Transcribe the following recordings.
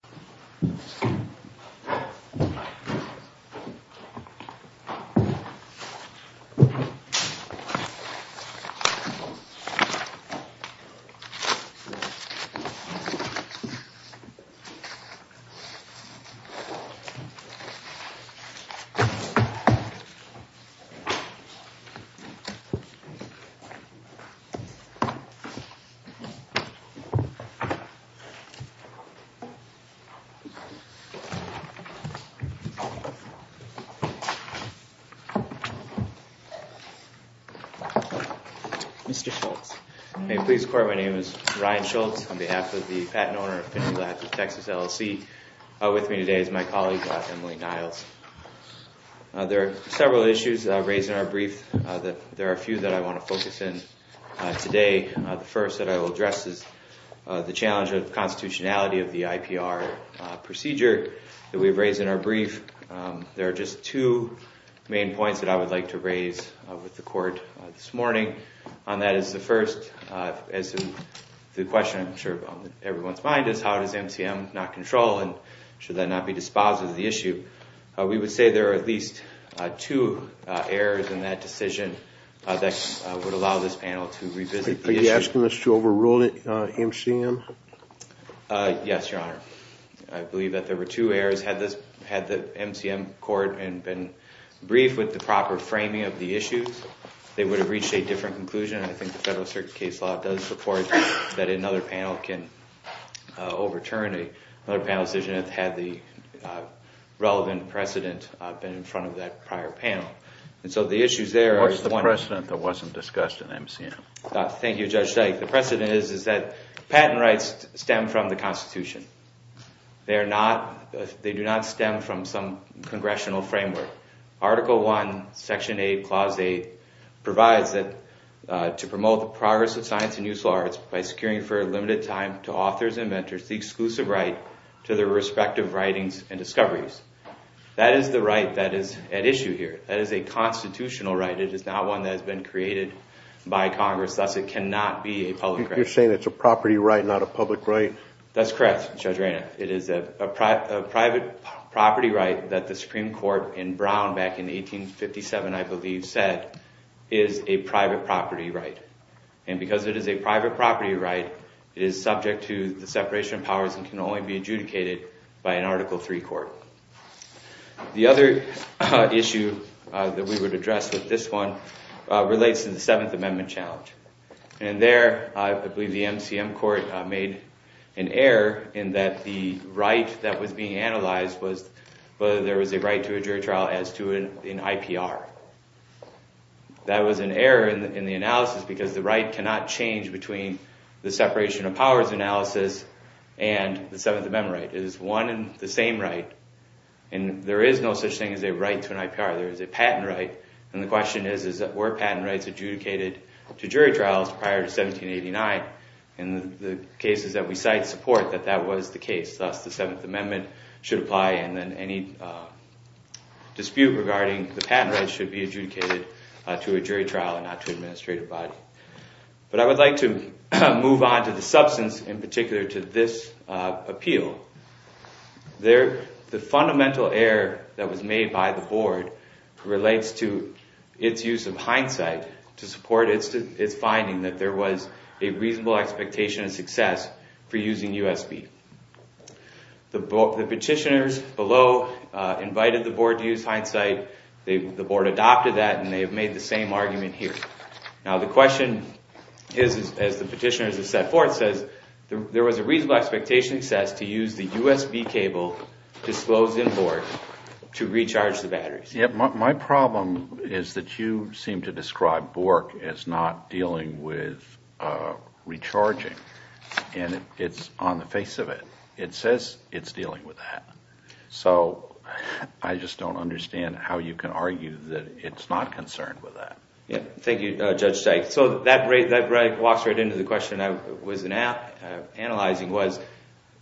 Samsung Electronics Co., Ltd. Mr. Schultz. May it please the Court, my name is Ryan Schultz. On behalf of the patent owner of Fininity Labs of Texas, LLC. With me today is my colleague, Emily Niles. There are several issues raised in our brief. There are a few that I want to focus in today. The first that I will address is the challenge of constitutionality of the IPR procedure that we've raised in our brief. There are just two main points that I would like to raise with the Court this morning. On that is the first, the question I'm sure is on everyone's mind is how does MCM not control and should that not be dispositive of the issue. We would say there are at least two errors in that decision that would allow this panel to revisit the issue. Are you asking us to overrule MCM? Yes, Your Honor. I believe that there were two errors. Had the MCM Court been briefed with the proper framing of the issues, they would have reached a different conclusion. I think the Federal Circuit case law does support that another panel can overturn another panel decision had the relevant precedent been in front of that prior panel. What's the precedent that wasn't discussed in MCM? Thank you, Judge Steik. The precedent is that patent rights stem from the Constitution. They do not stem from some congressional framework. Article 1, Section 8, Clause 8 provides that to promote the progress of science and useful arts by securing for a limited time to authors and inventors the exclusive right to their respective writings and discoveries. That is the right that is at issue here. That is a constitutional right. It is not one that has been created by Congress, thus it cannot be a public right. You're saying it's a property right, not a public right? That's correct, Judge Reynolds. It is a private property right that the Supreme Court in Brown back in 1857, I believe, said is a private property right. And because it is a private property right, it is subject to the separation of powers and can only be adjudicated by an Article 3 court. The other issue that we would address with this one relates to the Seventh Amendment challenge. And there, I believe the MCM court made an error in that the right that was being analyzed was whether there was a right to a jury trial as to an IPR. That was an error in the analysis because the right cannot change between the separation of powers analysis and the Seventh Amendment right. It is one and the same right, and there is no such thing as a right to an IPR. There is a patent right, and the question is, were patent rights adjudicated to jury trials prior to 1789? And the cases that we cite support that that was the case. Thus, the Seventh Amendment should apply, and then any dispute regarding the patent rights should be adjudicated to a jury trial and not to an administrative body. But I would like to move on to the substance in particular to this appeal. The fundamental error that was made by the Board relates to its use of hindsight to support its finding that there was a reasonable expectation of success for using USB. The petitioners below invited the Board to use hindsight. The Board adopted that, and they have made the same argument here. Now the question is, as the petitioners have set forth, there was a reasonable expectation of success to use the USB cable disclosed in Bork to recharge the batteries. My problem is that you seem to describe Bork as not dealing with recharging, and it's on the face of it. It says it's dealing with that. So I just don't understand how you can argue that it's not concerned with that. Thank you, Judge Sykes. So that walks right into the question I was analyzing, was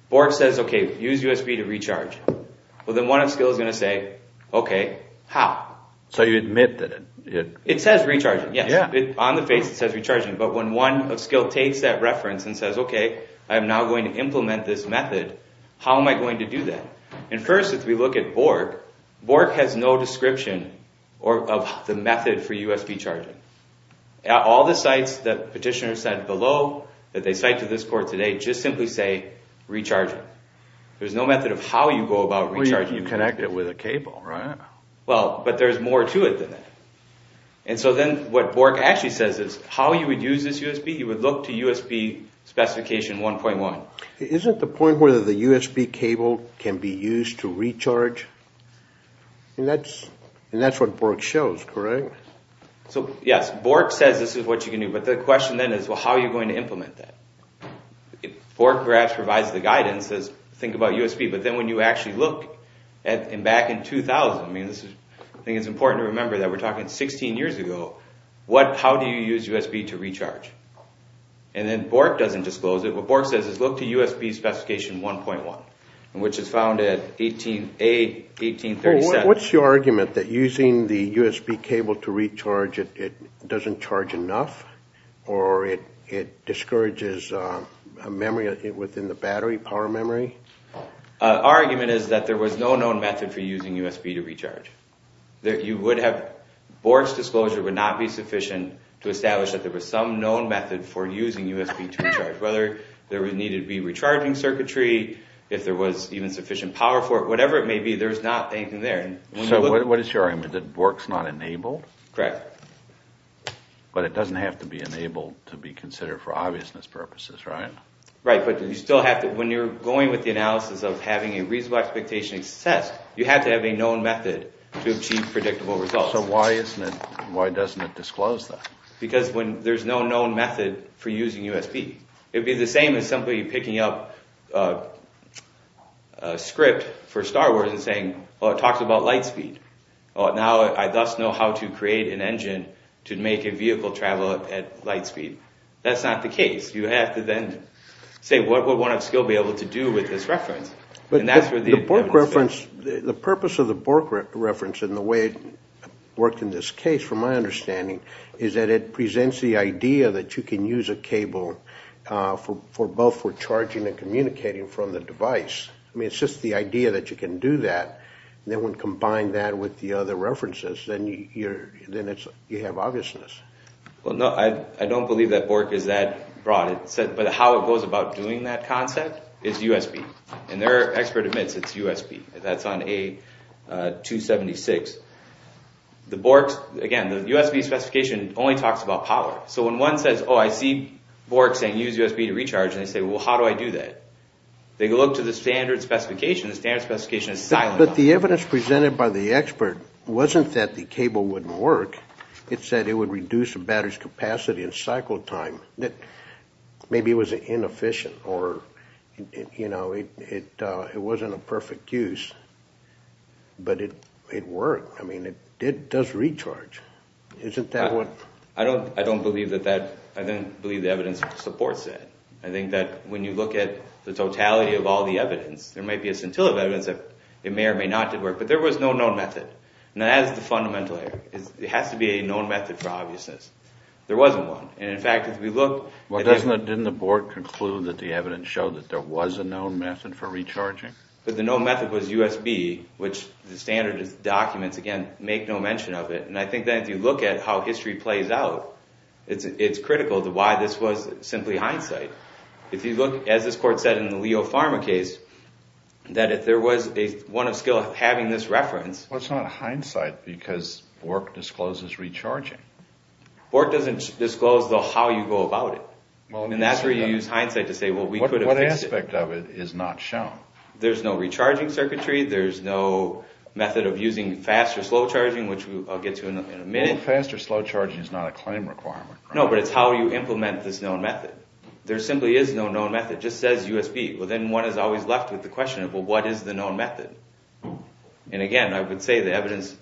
Bork says, okay, use USB to recharge. Well, then one of Skill is going to say, okay, how? So you admit that it... It says recharging, yes. On the face it says recharging. But when one of Skill takes that reference and says, okay, I'm now going to implement this method, how am I going to do that? And first, if we look at Bork, Bork has no description of the method for USB charging. All the sites that petitioners said below, that they cite to this court today, just simply say recharging. There's no method of how you go about recharging. Well, you connect it with a cable, right? Well, but there's more to it than that. And so then what Bork actually says is, how you would use this USB, you would look to USB specification 1.1. Isn't the point where the USB cable can be used to recharge? And that's what Bork shows, correct? So, yes, Bork says this is what you can do. But the question then is, well, how are you going to implement that? Bork perhaps provides the guidance, says think about USB. But then when you actually look back in 2000, I think it's important to remember that we're talking 16 years ago, how do you use USB to recharge? And then Bork doesn't disclose it. What Bork says is look to USB specification 1.1, which is found at 18-8, 18-37. What's your argument, that using the USB cable to recharge, it doesn't charge enough? Or it discourages memory within the battery, power memory? Our argument is that there was no known method for using USB to recharge. You would have, Bork's disclosure would not be sufficient to establish that there was some known method for using USB to recharge. Whether there would need to be recharging circuitry, if there was even sufficient power for it, whatever it may be, there's not anything there. So what is your argument, that Bork's not enabled? Correct. But it doesn't have to be enabled to be considered for obviousness purposes, right? Right, but you still have to, when you're going with the analysis of having a reasonable expectation of success, you have to have a known method to achieve predictable results. So why isn't it, why doesn't it disclose that? Because when there's no known method for using USB. It would be the same as somebody picking up a script for Star Wars and saying, well it talks about light speed. Now I thus know how to create an engine to make a vehicle travel at light speed. That's not the case. You have to then say, what would one still be able to do with this reference? But the Bork reference, the purpose of the Bork reference and the way it worked in this case, from my understanding, is that it presents the idea that you can use a cable for both for charging and communicating from the device. I mean, it's just the idea that you can do that, and then when combined that with the other references, then you have obviousness. Well, no, I don't believe that Bork is that broad. But how it goes about doing that concept is USB, and their expert admits it's USB. That's on A276. The Borks, again, the USB specification only talks about power. So when one says, oh, I see Bork saying use USB to recharge, and they say, well, how do I do that? They look to the standard specification, the standard specification is silent. But the evidence presented by the expert wasn't that the cable wouldn't work. It said it would reduce the battery's capacity in cycle time. Maybe it was inefficient or, you know, it wasn't a perfect use. But it worked. I mean, it does recharge. Isn't that what? I don't believe that that, I don't believe the evidence supports that. I think that when you look at the totality of all the evidence, there might be a scintilla of evidence that it may or may not have worked. But there was no known method. And that is the fundamental error. It has to be a known method for obviousness. There wasn't one. And, in fact, if we look... Well, didn't the Bork conclude that the evidence showed that there was a known method for recharging? But the known method was USB, which the standard documents, again, make no mention of it. And I think that if you look at how history plays out, it's critical to why this was simply hindsight. If you look, as this court said in the Leo Pharma case, that if there was one of skill having this reference... Well, it's not hindsight because Bork discloses recharging. Bork doesn't disclose how you go about it. And that's where you use hindsight to say, well, we could have fixed it. What aspect of it is not shown? There's no recharging circuitry. There's no method of using fast or slow charging, which I'll get to in a minute. Well, fast or slow charging is not a claim requirement. No, but it's how you implement this known method. There simply is no known method. It just says USB. Well, then one is always left with the question of, well, what is the known method? And, again, I would say the evidence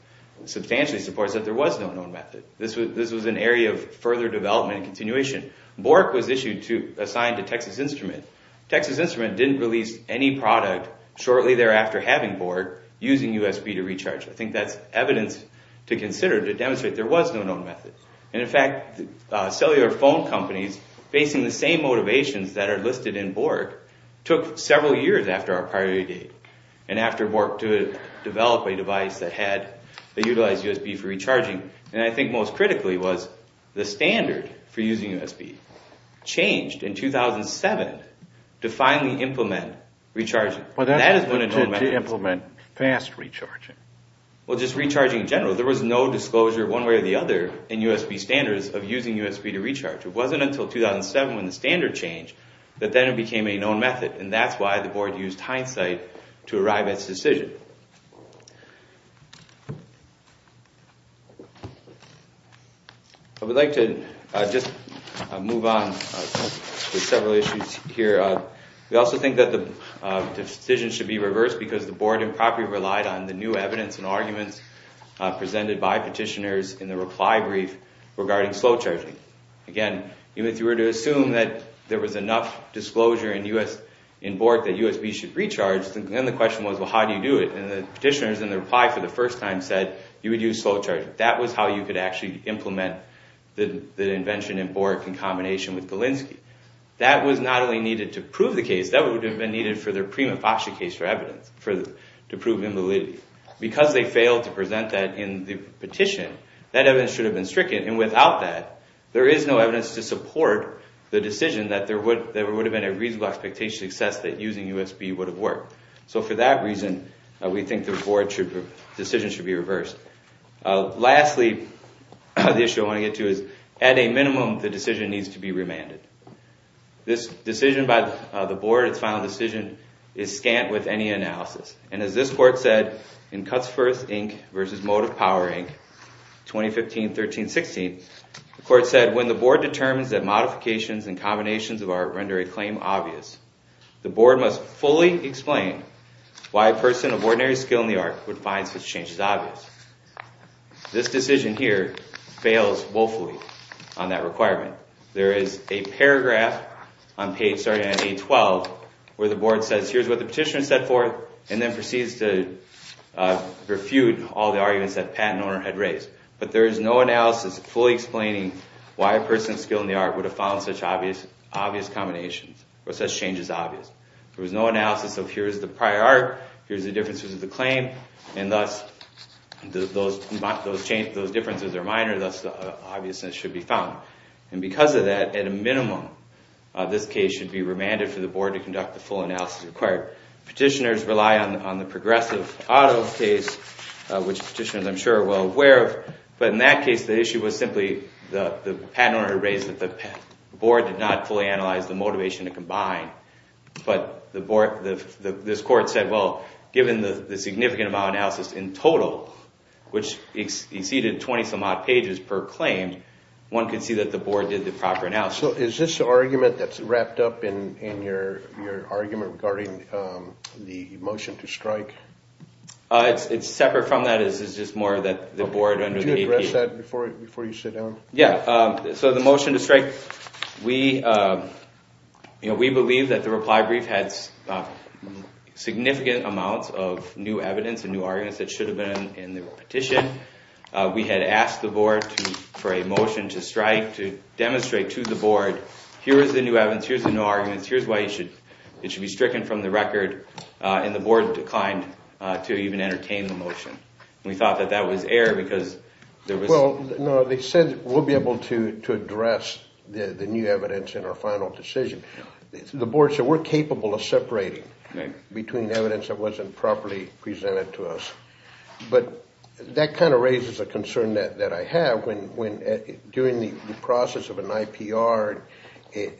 substantially supports that there was no known method. This was an area of further development and continuation. Bork was issued to...assigned to Texas Instrument. Texas Instrument didn't release any product shortly thereafter having Bork using USB to recharge. I think that's evidence to consider to demonstrate there was no known method. And, in fact, cellular phone companies facing the same motivations that are listed in Bork took several years after our priority date and after Bork developed a device that utilized USB for recharging. And I think most critically was the standard for using USB. It changed in 2007 to finally implement recharging. Well, that is when a known method is. To implement fast recharging. Well, just recharging in general. There was no disclosure one way or the other in USB standards of using USB to recharge. It wasn't until 2007 when the standard changed that then it became a known method, and that's why the board used hindsight to arrive at its decision. Thank you. I would like to just move on to several issues here. We also think that the decision should be reversed because the board improperly relied on the new evidence and arguments presented by petitioners in the reply brief regarding slow charging. Again, even if you were to assume that there was enough disclosure in Bork that USB should recharge, then the question was, well, how do you do it? And the petitioners in the reply for the first time said you would use slow charging. That was how you could actually implement the invention in Bork in combination with Galinsky. That was not only needed to prove the case, that would have been needed for their prima facie case for evidence, to prove invalidity. Because they failed to present that in the petition, that evidence should have been stricken, and without that, there is no evidence to support the decision that there would have been a reasonable expectation to gauge success that using USB would have worked. So for that reason, we think the board decision should be reversed. Lastly, the issue I want to get to is, at a minimum, the decision needs to be remanded. This decision by the board, its final decision, is scant with any analysis. And as this court said in Cuts First, Inc. v. Motive Power, Inc., 2015-13-16, the court said, when the board determines that modifications and combinations of art render a claim obvious, the board must fully explain why a person of ordinary skill in the art would find such a change as obvious. This decision here fails woefully on that requirement. There is a paragraph on page 812 where the board says, here's what the petitioner said for it, and then proceeds to refute all the arguments that the patent owner had raised. But there is no analysis fully explaining why a person of skill in the art would have found such obvious combinations, or such changes obvious. There was no analysis of, here's the prior art, here's the differences of the claim, and thus those differences are minor, thus the obviousness should be found. And because of that, at a minimum, this case should be remanded for the board to conduct the full analysis required. Petitioners rely on the progressive auto case, which petitioners, I'm sure, are well aware of. But in that case, the issue was simply the patent owner raised that the board did not fully analyze the motivation to combine. But this court said, well, given the significant amount of analysis in total, which exceeded 20-some-odd pages per claim, one could see that the board did the proper analysis. So is this the argument that's wrapped up in your argument regarding the motion to strike? It's separate from that. It's just more that the board under the APA... Could you address that before you sit down? Yeah. So the motion to strike, we believe that the reply brief had significant amounts of new evidence and new arguments that should have been in the petition. We had asked the board for a motion to strike to demonstrate to the board, here is the new evidence, here's the new arguments, here's why it should be stricken from the record. And the board declined to even entertain the motion. We thought that that was error because there was... Well, no, they said we'll be able to address the new evidence in our final decision. The board said we're capable of separating between evidence that wasn't properly presented to us. But that kind of raises a concern that I have when during the process of an IPR,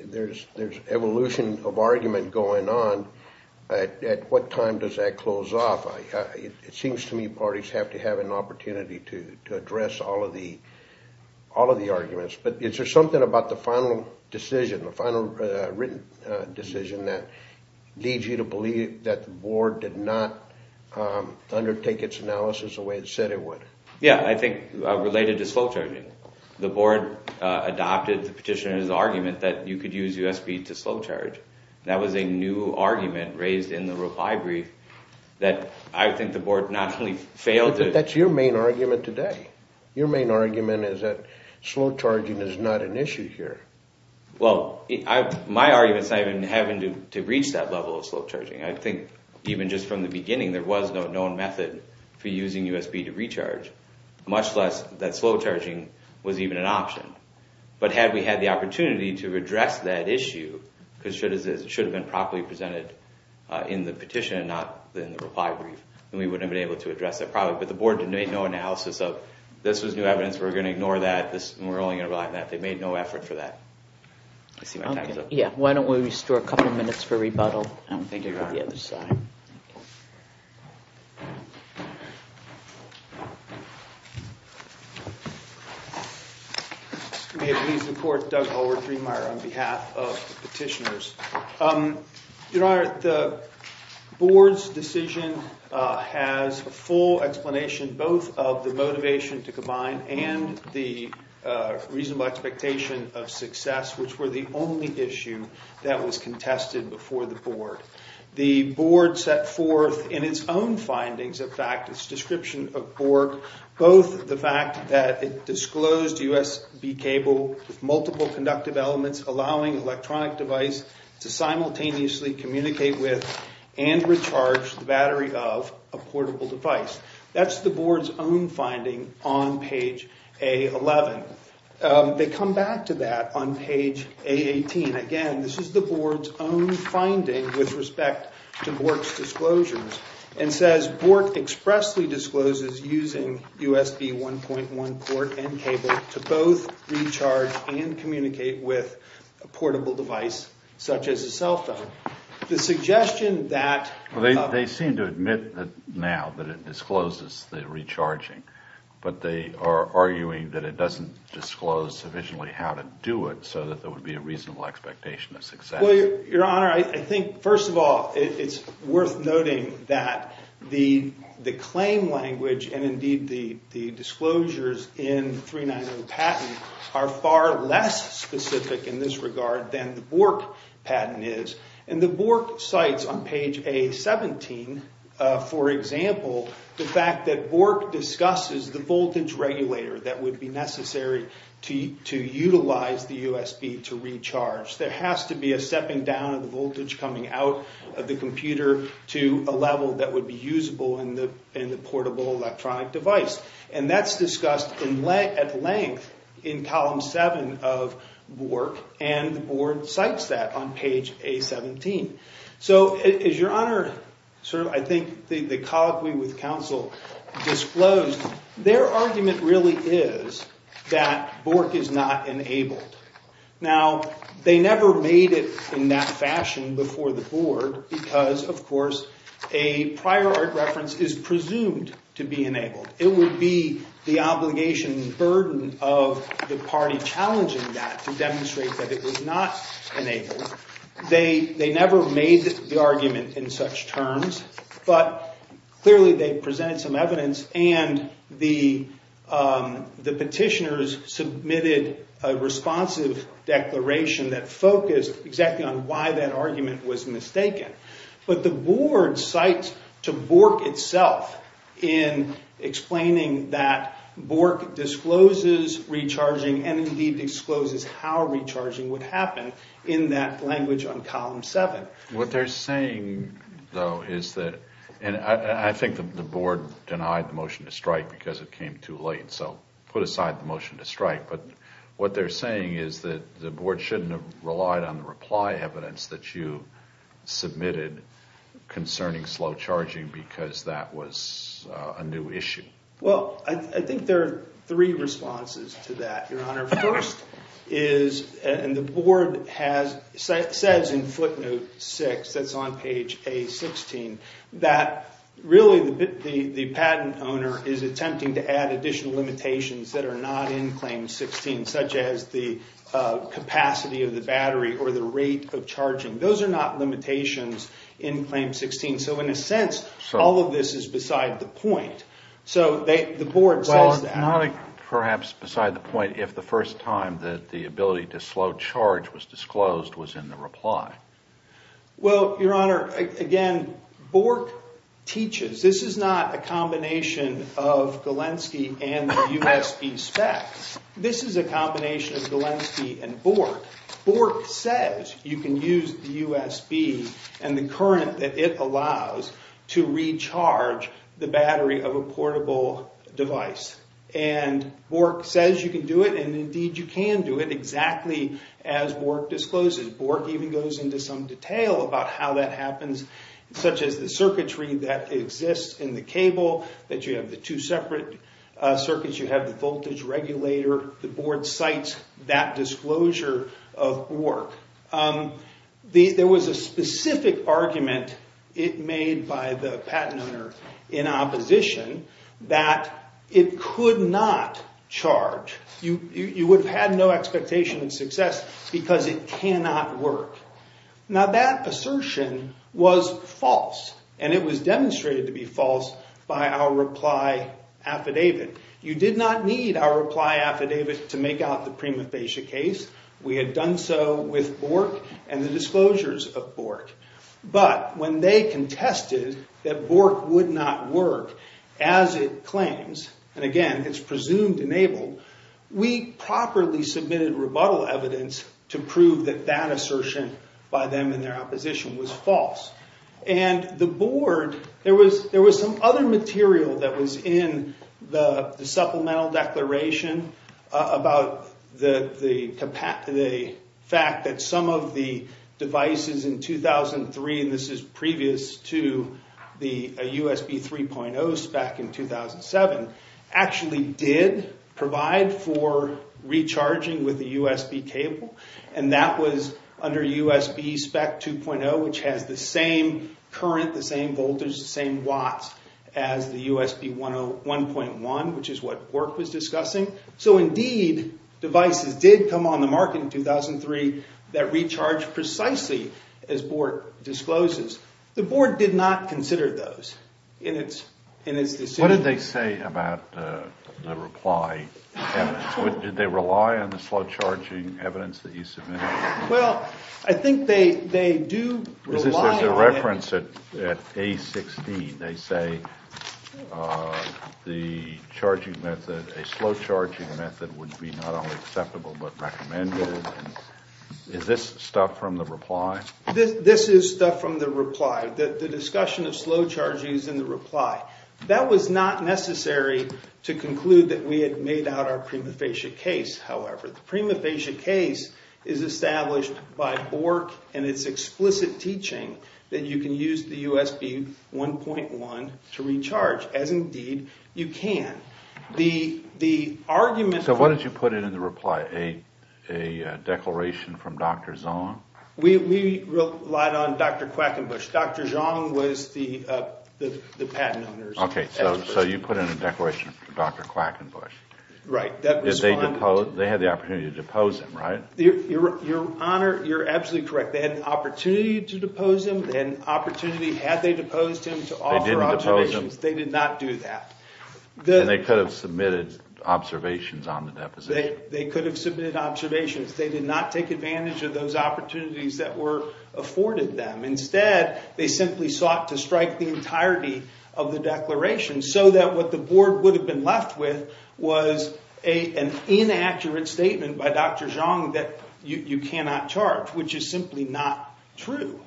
there's evolution of argument going on, at what time does that close off? It seems to me parties have to have an opportunity to address all of the arguments. But is there something about the final decision, the final written decision, that leads you to believe that the board did not undertake its analysis the way it said it would? Yeah, I think related to slow charging. The board adopted the petitioner's argument that you could use USB to slow charge. That was a new argument raised in the reply brief that I think the board not only failed to... But that's your main argument today. Your main argument is that slow charging is not an issue here. Well, my argument is not even having to reach that level of slow charging. I think even just from the beginning, there was no known method for using USB to recharge, much less that slow charging was even an option. But had we had the opportunity to address that issue, because it should have been properly presented in the petition and not in the reply brief, then we wouldn't have been able to address that problem. But the board made no analysis of this was new evidence, we're going to ignore that, and we're only going to rely on that. They made no effort for that. I see my time's up. Yeah, why don't we restore a couple of minutes for rebuttal, and we'll go to the other side. Thank you, Your Honor. May it please the court, Doug Hallward-Driemeier on behalf of the petitioners. Your Honor, the board's decision has a full explanation, both of the motivation to combine and the reasonable expectation of success, which were the only issue that was contested before the board. The board set forth in its own findings, in fact, its description of BORC, both the fact that it disclosed USB cable with multiple conductive elements, allowing electronic device to simultaneously communicate with and recharge the battery of a portable device. That's the board's own finding on page A-11. They come back to that on page A-18. Again, this is the board's own finding with respect to BORC's disclosures. It says, BORC expressly discloses using USB 1.1 port and cable to both recharge and communicate with a portable device such as a cell phone. They seem to admit now that it discloses the recharging, but they are arguing that it doesn't disclose sufficiently how to do it so that there would be a reasonable expectation of success. Your Honor, I think, first of all, it's worth noting that the claim language and indeed the disclosures in the 390 patent are far less specific in this regard than the BORC patent is. The BORC cites on page A-17, for example, the fact that BORC discusses the voltage regulator that would be necessary to utilize the USB to recharge. There has to be a stepping down of the voltage coming out of the computer to a level that would be usable in the portable electronic device. And that's discussed at length in column 7 of BORC, and the board cites that on page A-17. So, as Your Honor, I think the colloquy with counsel disclosed, their argument really is that BORC is not enabled. Now, they never made it in that fashion before the board because, of course, a prior art reference is presumed to be enabled. It would be the obligation and burden of the party challenging that to demonstrate that it was not enabled. They never made the argument in such terms, but clearly they presented some evidence and the petitioners submitted a responsive declaration that focused exactly on why that argument was mistaken. But the board cites to BORC itself in explaining that BORC discloses recharging and indeed discloses how recharging would happen in that language on column 7. What they're saying, though, is that, and I think the board denied the motion to strike because it came too late, so put aside the motion to strike. But what they're saying is that the board shouldn't have relied on the reply evidence that you submitted concerning slow charging because that was a new issue. Well, I think there are three responses to that, Your Honor. First is, and the board says in footnote 6, that's on page A-16, that really the patent owner is attempting to add additional limitations that are not in claim 16, such as the capacity of the battery or the rate of charging. Those are not limitations in claim 16. So in a sense, all of this is beside the point. So the board says that. Well, not perhaps beside the point if the first time that the ability to slow charge was disclosed was in the reply. Well, Your Honor, again, BORC teaches. This is not a combination of Galenski and the USB specs. This is a combination of Galenski and BORC. BORC says you can use the USB and the current that it allows to recharge the battery of a portable device. And BORC says you can do it, and indeed you can do it, exactly as BORC discloses. BORC even goes into some detail about how that happens, such as the circuitry that exists in the cable, that you have the two separate circuits. You have the voltage regulator. The board cites that disclosure of BORC. There was a specific argument it made by the patent owner in opposition that it could not charge. You would have had no expectation of success because it cannot work. Now, that assertion was false, and it was demonstrated to be false by our reply affidavit. You did not need our reply affidavit to make out the prima facie case. We had done so with BORC and the disclosures of BORC. But when they contested that BORC would not work as it claims, and again, it's presumed enabled, we properly submitted rebuttal evidence to prove that that assertion by them in their opposition was false. There was some other material that was in the supplemental declaration about the fact that some of the devices in 2003, and this is previous to the USB 3.0 spec in 2007, actually did provide for recharging with the USB cable. And that was under USB spec 2.0, which has the same current, the same voltage, the same watts as the USB 1.1, which is what BORC was discussing. So indeed, devices did come on the market in 2003 that recharged precisely as BORC discloses. The board did not consider those in its decision. What did they say about the reply? Did they rely on the slow charging evidence that you submitted? Well, I think they do rely on it. There's a reference at A16. They say the charging method, a slow charging method would be not only acceptable but recommended. Is this stuff from the reply? This is stuff from the reply. The discussion of slow charging is in the reply. That was not necessary to conclude that we had made out our prima facie case, however. The prima facie case is established by BORC and its explicit teaching that you can use the USB 1.1 to recharge, as indeed you can. The argument for- So what did you put in the reply? A declaration from Dr. Zhang? We relied on Dr. Quackenbush. Dr. Zhang was the patent owner. Okay, so you put in a declaration from Dr. Quackenbush. Right. They had the opportunity to depose him, right? Your Honor, you're absolutely correct. They had an opportunity to depose him. They had an opportunity, had they deposed him, to offer observations. They did not do that. Then they could have submitted observations on the deposition. They could have submitted observations. They did not take advantage of those opportunities that were afforded them. Instead, they simply sought to strike the entirety of the declaration so that what the board would have been left with was an inaccurate statement by Dr. Zhang that you cannot charge, which is simply not true.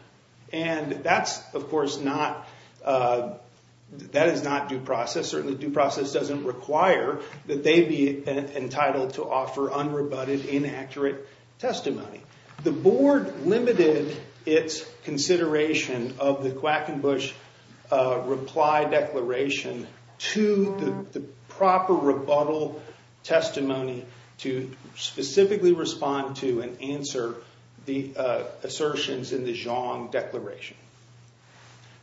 And that's, of course, not- that is not due process. Certainly due process doesn't require that they be entitled to offer unrebutted, inaccurate testimony. The board limited its consideration of the Quackenbush reply declaration to the proper rebuttal testimony to specifically respond to and answer the assertions in the Zhang declaration.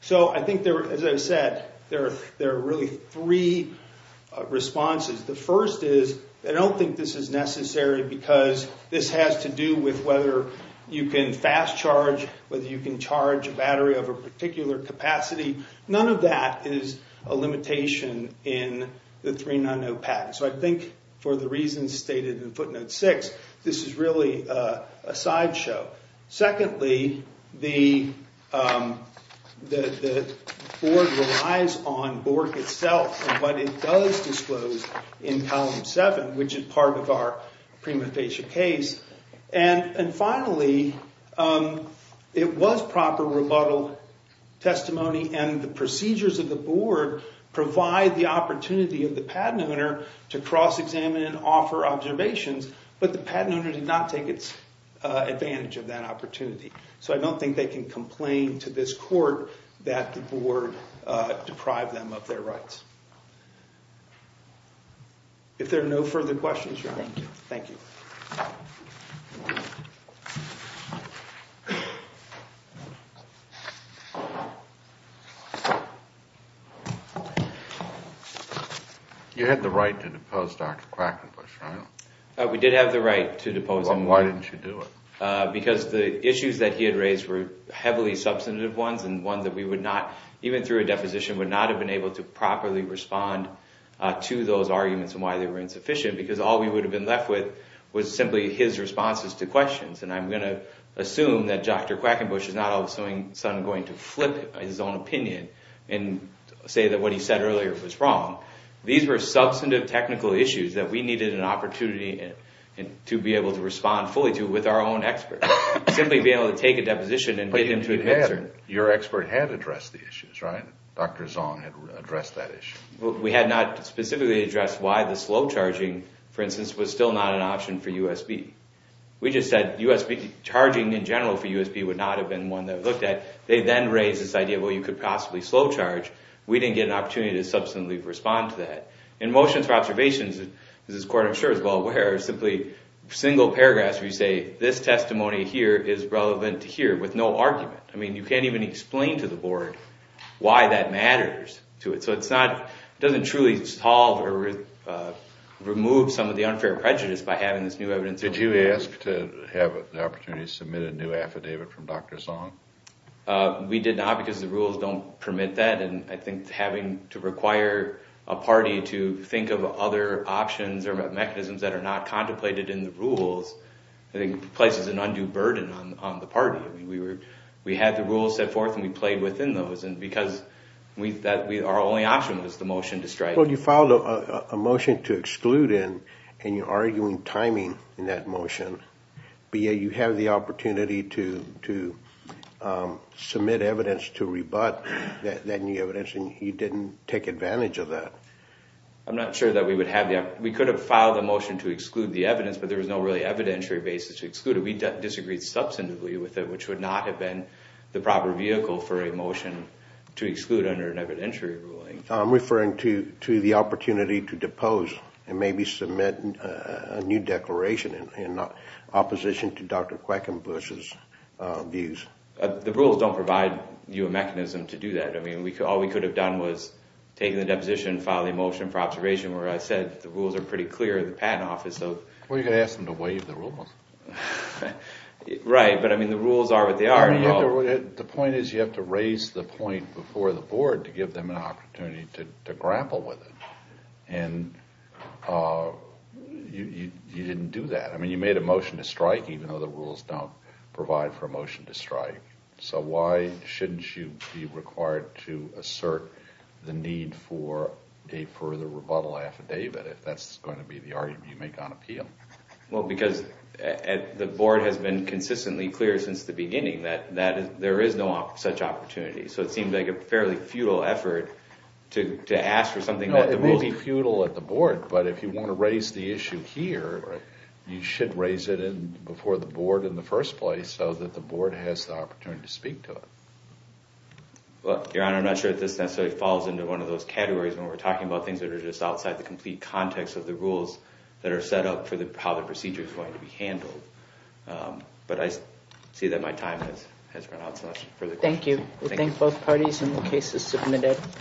So I think, as I said, there are really three responses. The first is I don't think this is necessary because this has to do with whether you can fast charge, whether you can charge a battery of a particular capacity. None of that is a limitation in the 390 patent. So I think for the reasons stated in footnote 6, this is really a sideshow. Secondly, the board relies on BORC itself and what it does disclose in column 7, which is part of our prima facie case. And finally, it was proper rebuttal testimony and the procedures of the board provide the opportunity of the patent owner to cross-examine and offer observations. But the patent owner did not take advantage of that opportunity. So I don't think they can complain to this court that the board deprived them of their rights. If there are no further questions, Your Honor. Thank you. You had the right to depose Dr. Krakenbusch, right? We did have the right to depose him. Why didn't you do it? Because the issues that he had raised were heavily substantive ones and ones that we would not, even through a deposition, would not have been able to properly respond to those arguments and why they were insufficient. Because all we would have been left with was simply his responses to questions. And I'm going to assume that Dr. Krakenbusch is not all of a sudden going to flip his own opinion and say that what he said earlier was wrong. These were substantive technical issues that we needed an opportunity to be able to respond fully to with our own experts. Simply being able to take a deposition and get him to administer. But your expert had addressed the issues, right? Dr. Zong had addressed that issue. We had not specifically addressed why the slow charging, for instance, was still not an option for USB. We just said charging in general for USB would not have been one that we looked at. They then raised this idea, well, you could possibly slow charge. We didn't get an opportunity to substantively respond to that. In motions for observations, as this Court I'm sure is well aware, simply single paragraphs where you say this testimony here is relevant to here with no argument. I mean, you can't even explain to the Board why that matters to it. So it doesn't truly solve or remove some of the unfair prejudice by having this new evidence. Did you ask to have the opportunity to submit a new affidavit from Dr. Zong? We did not because the rules don't permit that. And I think having to require a party to think of other options or mechanisms that are not contemplated in the rules, I think, places an undue burden on the party. We had the rules set forth and we played within those. And because our only option was the motion to strike. Well, you filed a motion to exclude in, and you're arguing timing in that motion. But yet you have the opportunity to submit evidence to rebut that new evidence, and you didn't take advantage of that. I'm not sure that we would have. We could have filed a motion to exclude the evidence, but there was no really evidentiary basis to exclude it. We disagreed substantively with it, which would not have been the proper vehicle for a motion to exclude under an evidentiary ruling. I'm referring to the opportunity to depose and maybe submit a new declaration in opposition to Dr. Quackenbush's views. The rules don't provide you a mechanism to do that. I mean, all we could have done was taken the deposition and filed a motion for observation where I said the rules are pretty clear. Well, you could have asked them to waive the rules. Right, but I mean the rules are what they are. The point is you have to raise the point before the board to give them an opportunity to grapple with it. And you didn't do that. I mean, you made a motion to strike even though the rules don't provide for a motion to strike. So why shouldn't you be required to assert the need for a further rebuttal affidavit if that's going to be the argument you make on appeal? Well, because the board has been consistently clear since the beginning that there is no such opportunity. So it seems like a fairly futile effort to ask for something that the board... Your Honor, I'm not sure if this necessarily falls into one of those categories when we're talking about things that are just outside the complete context of the rules that are set up for how the procedure is going to be handled. But I see that my time has run out. Thank you. We thank both parties and the case is submitted.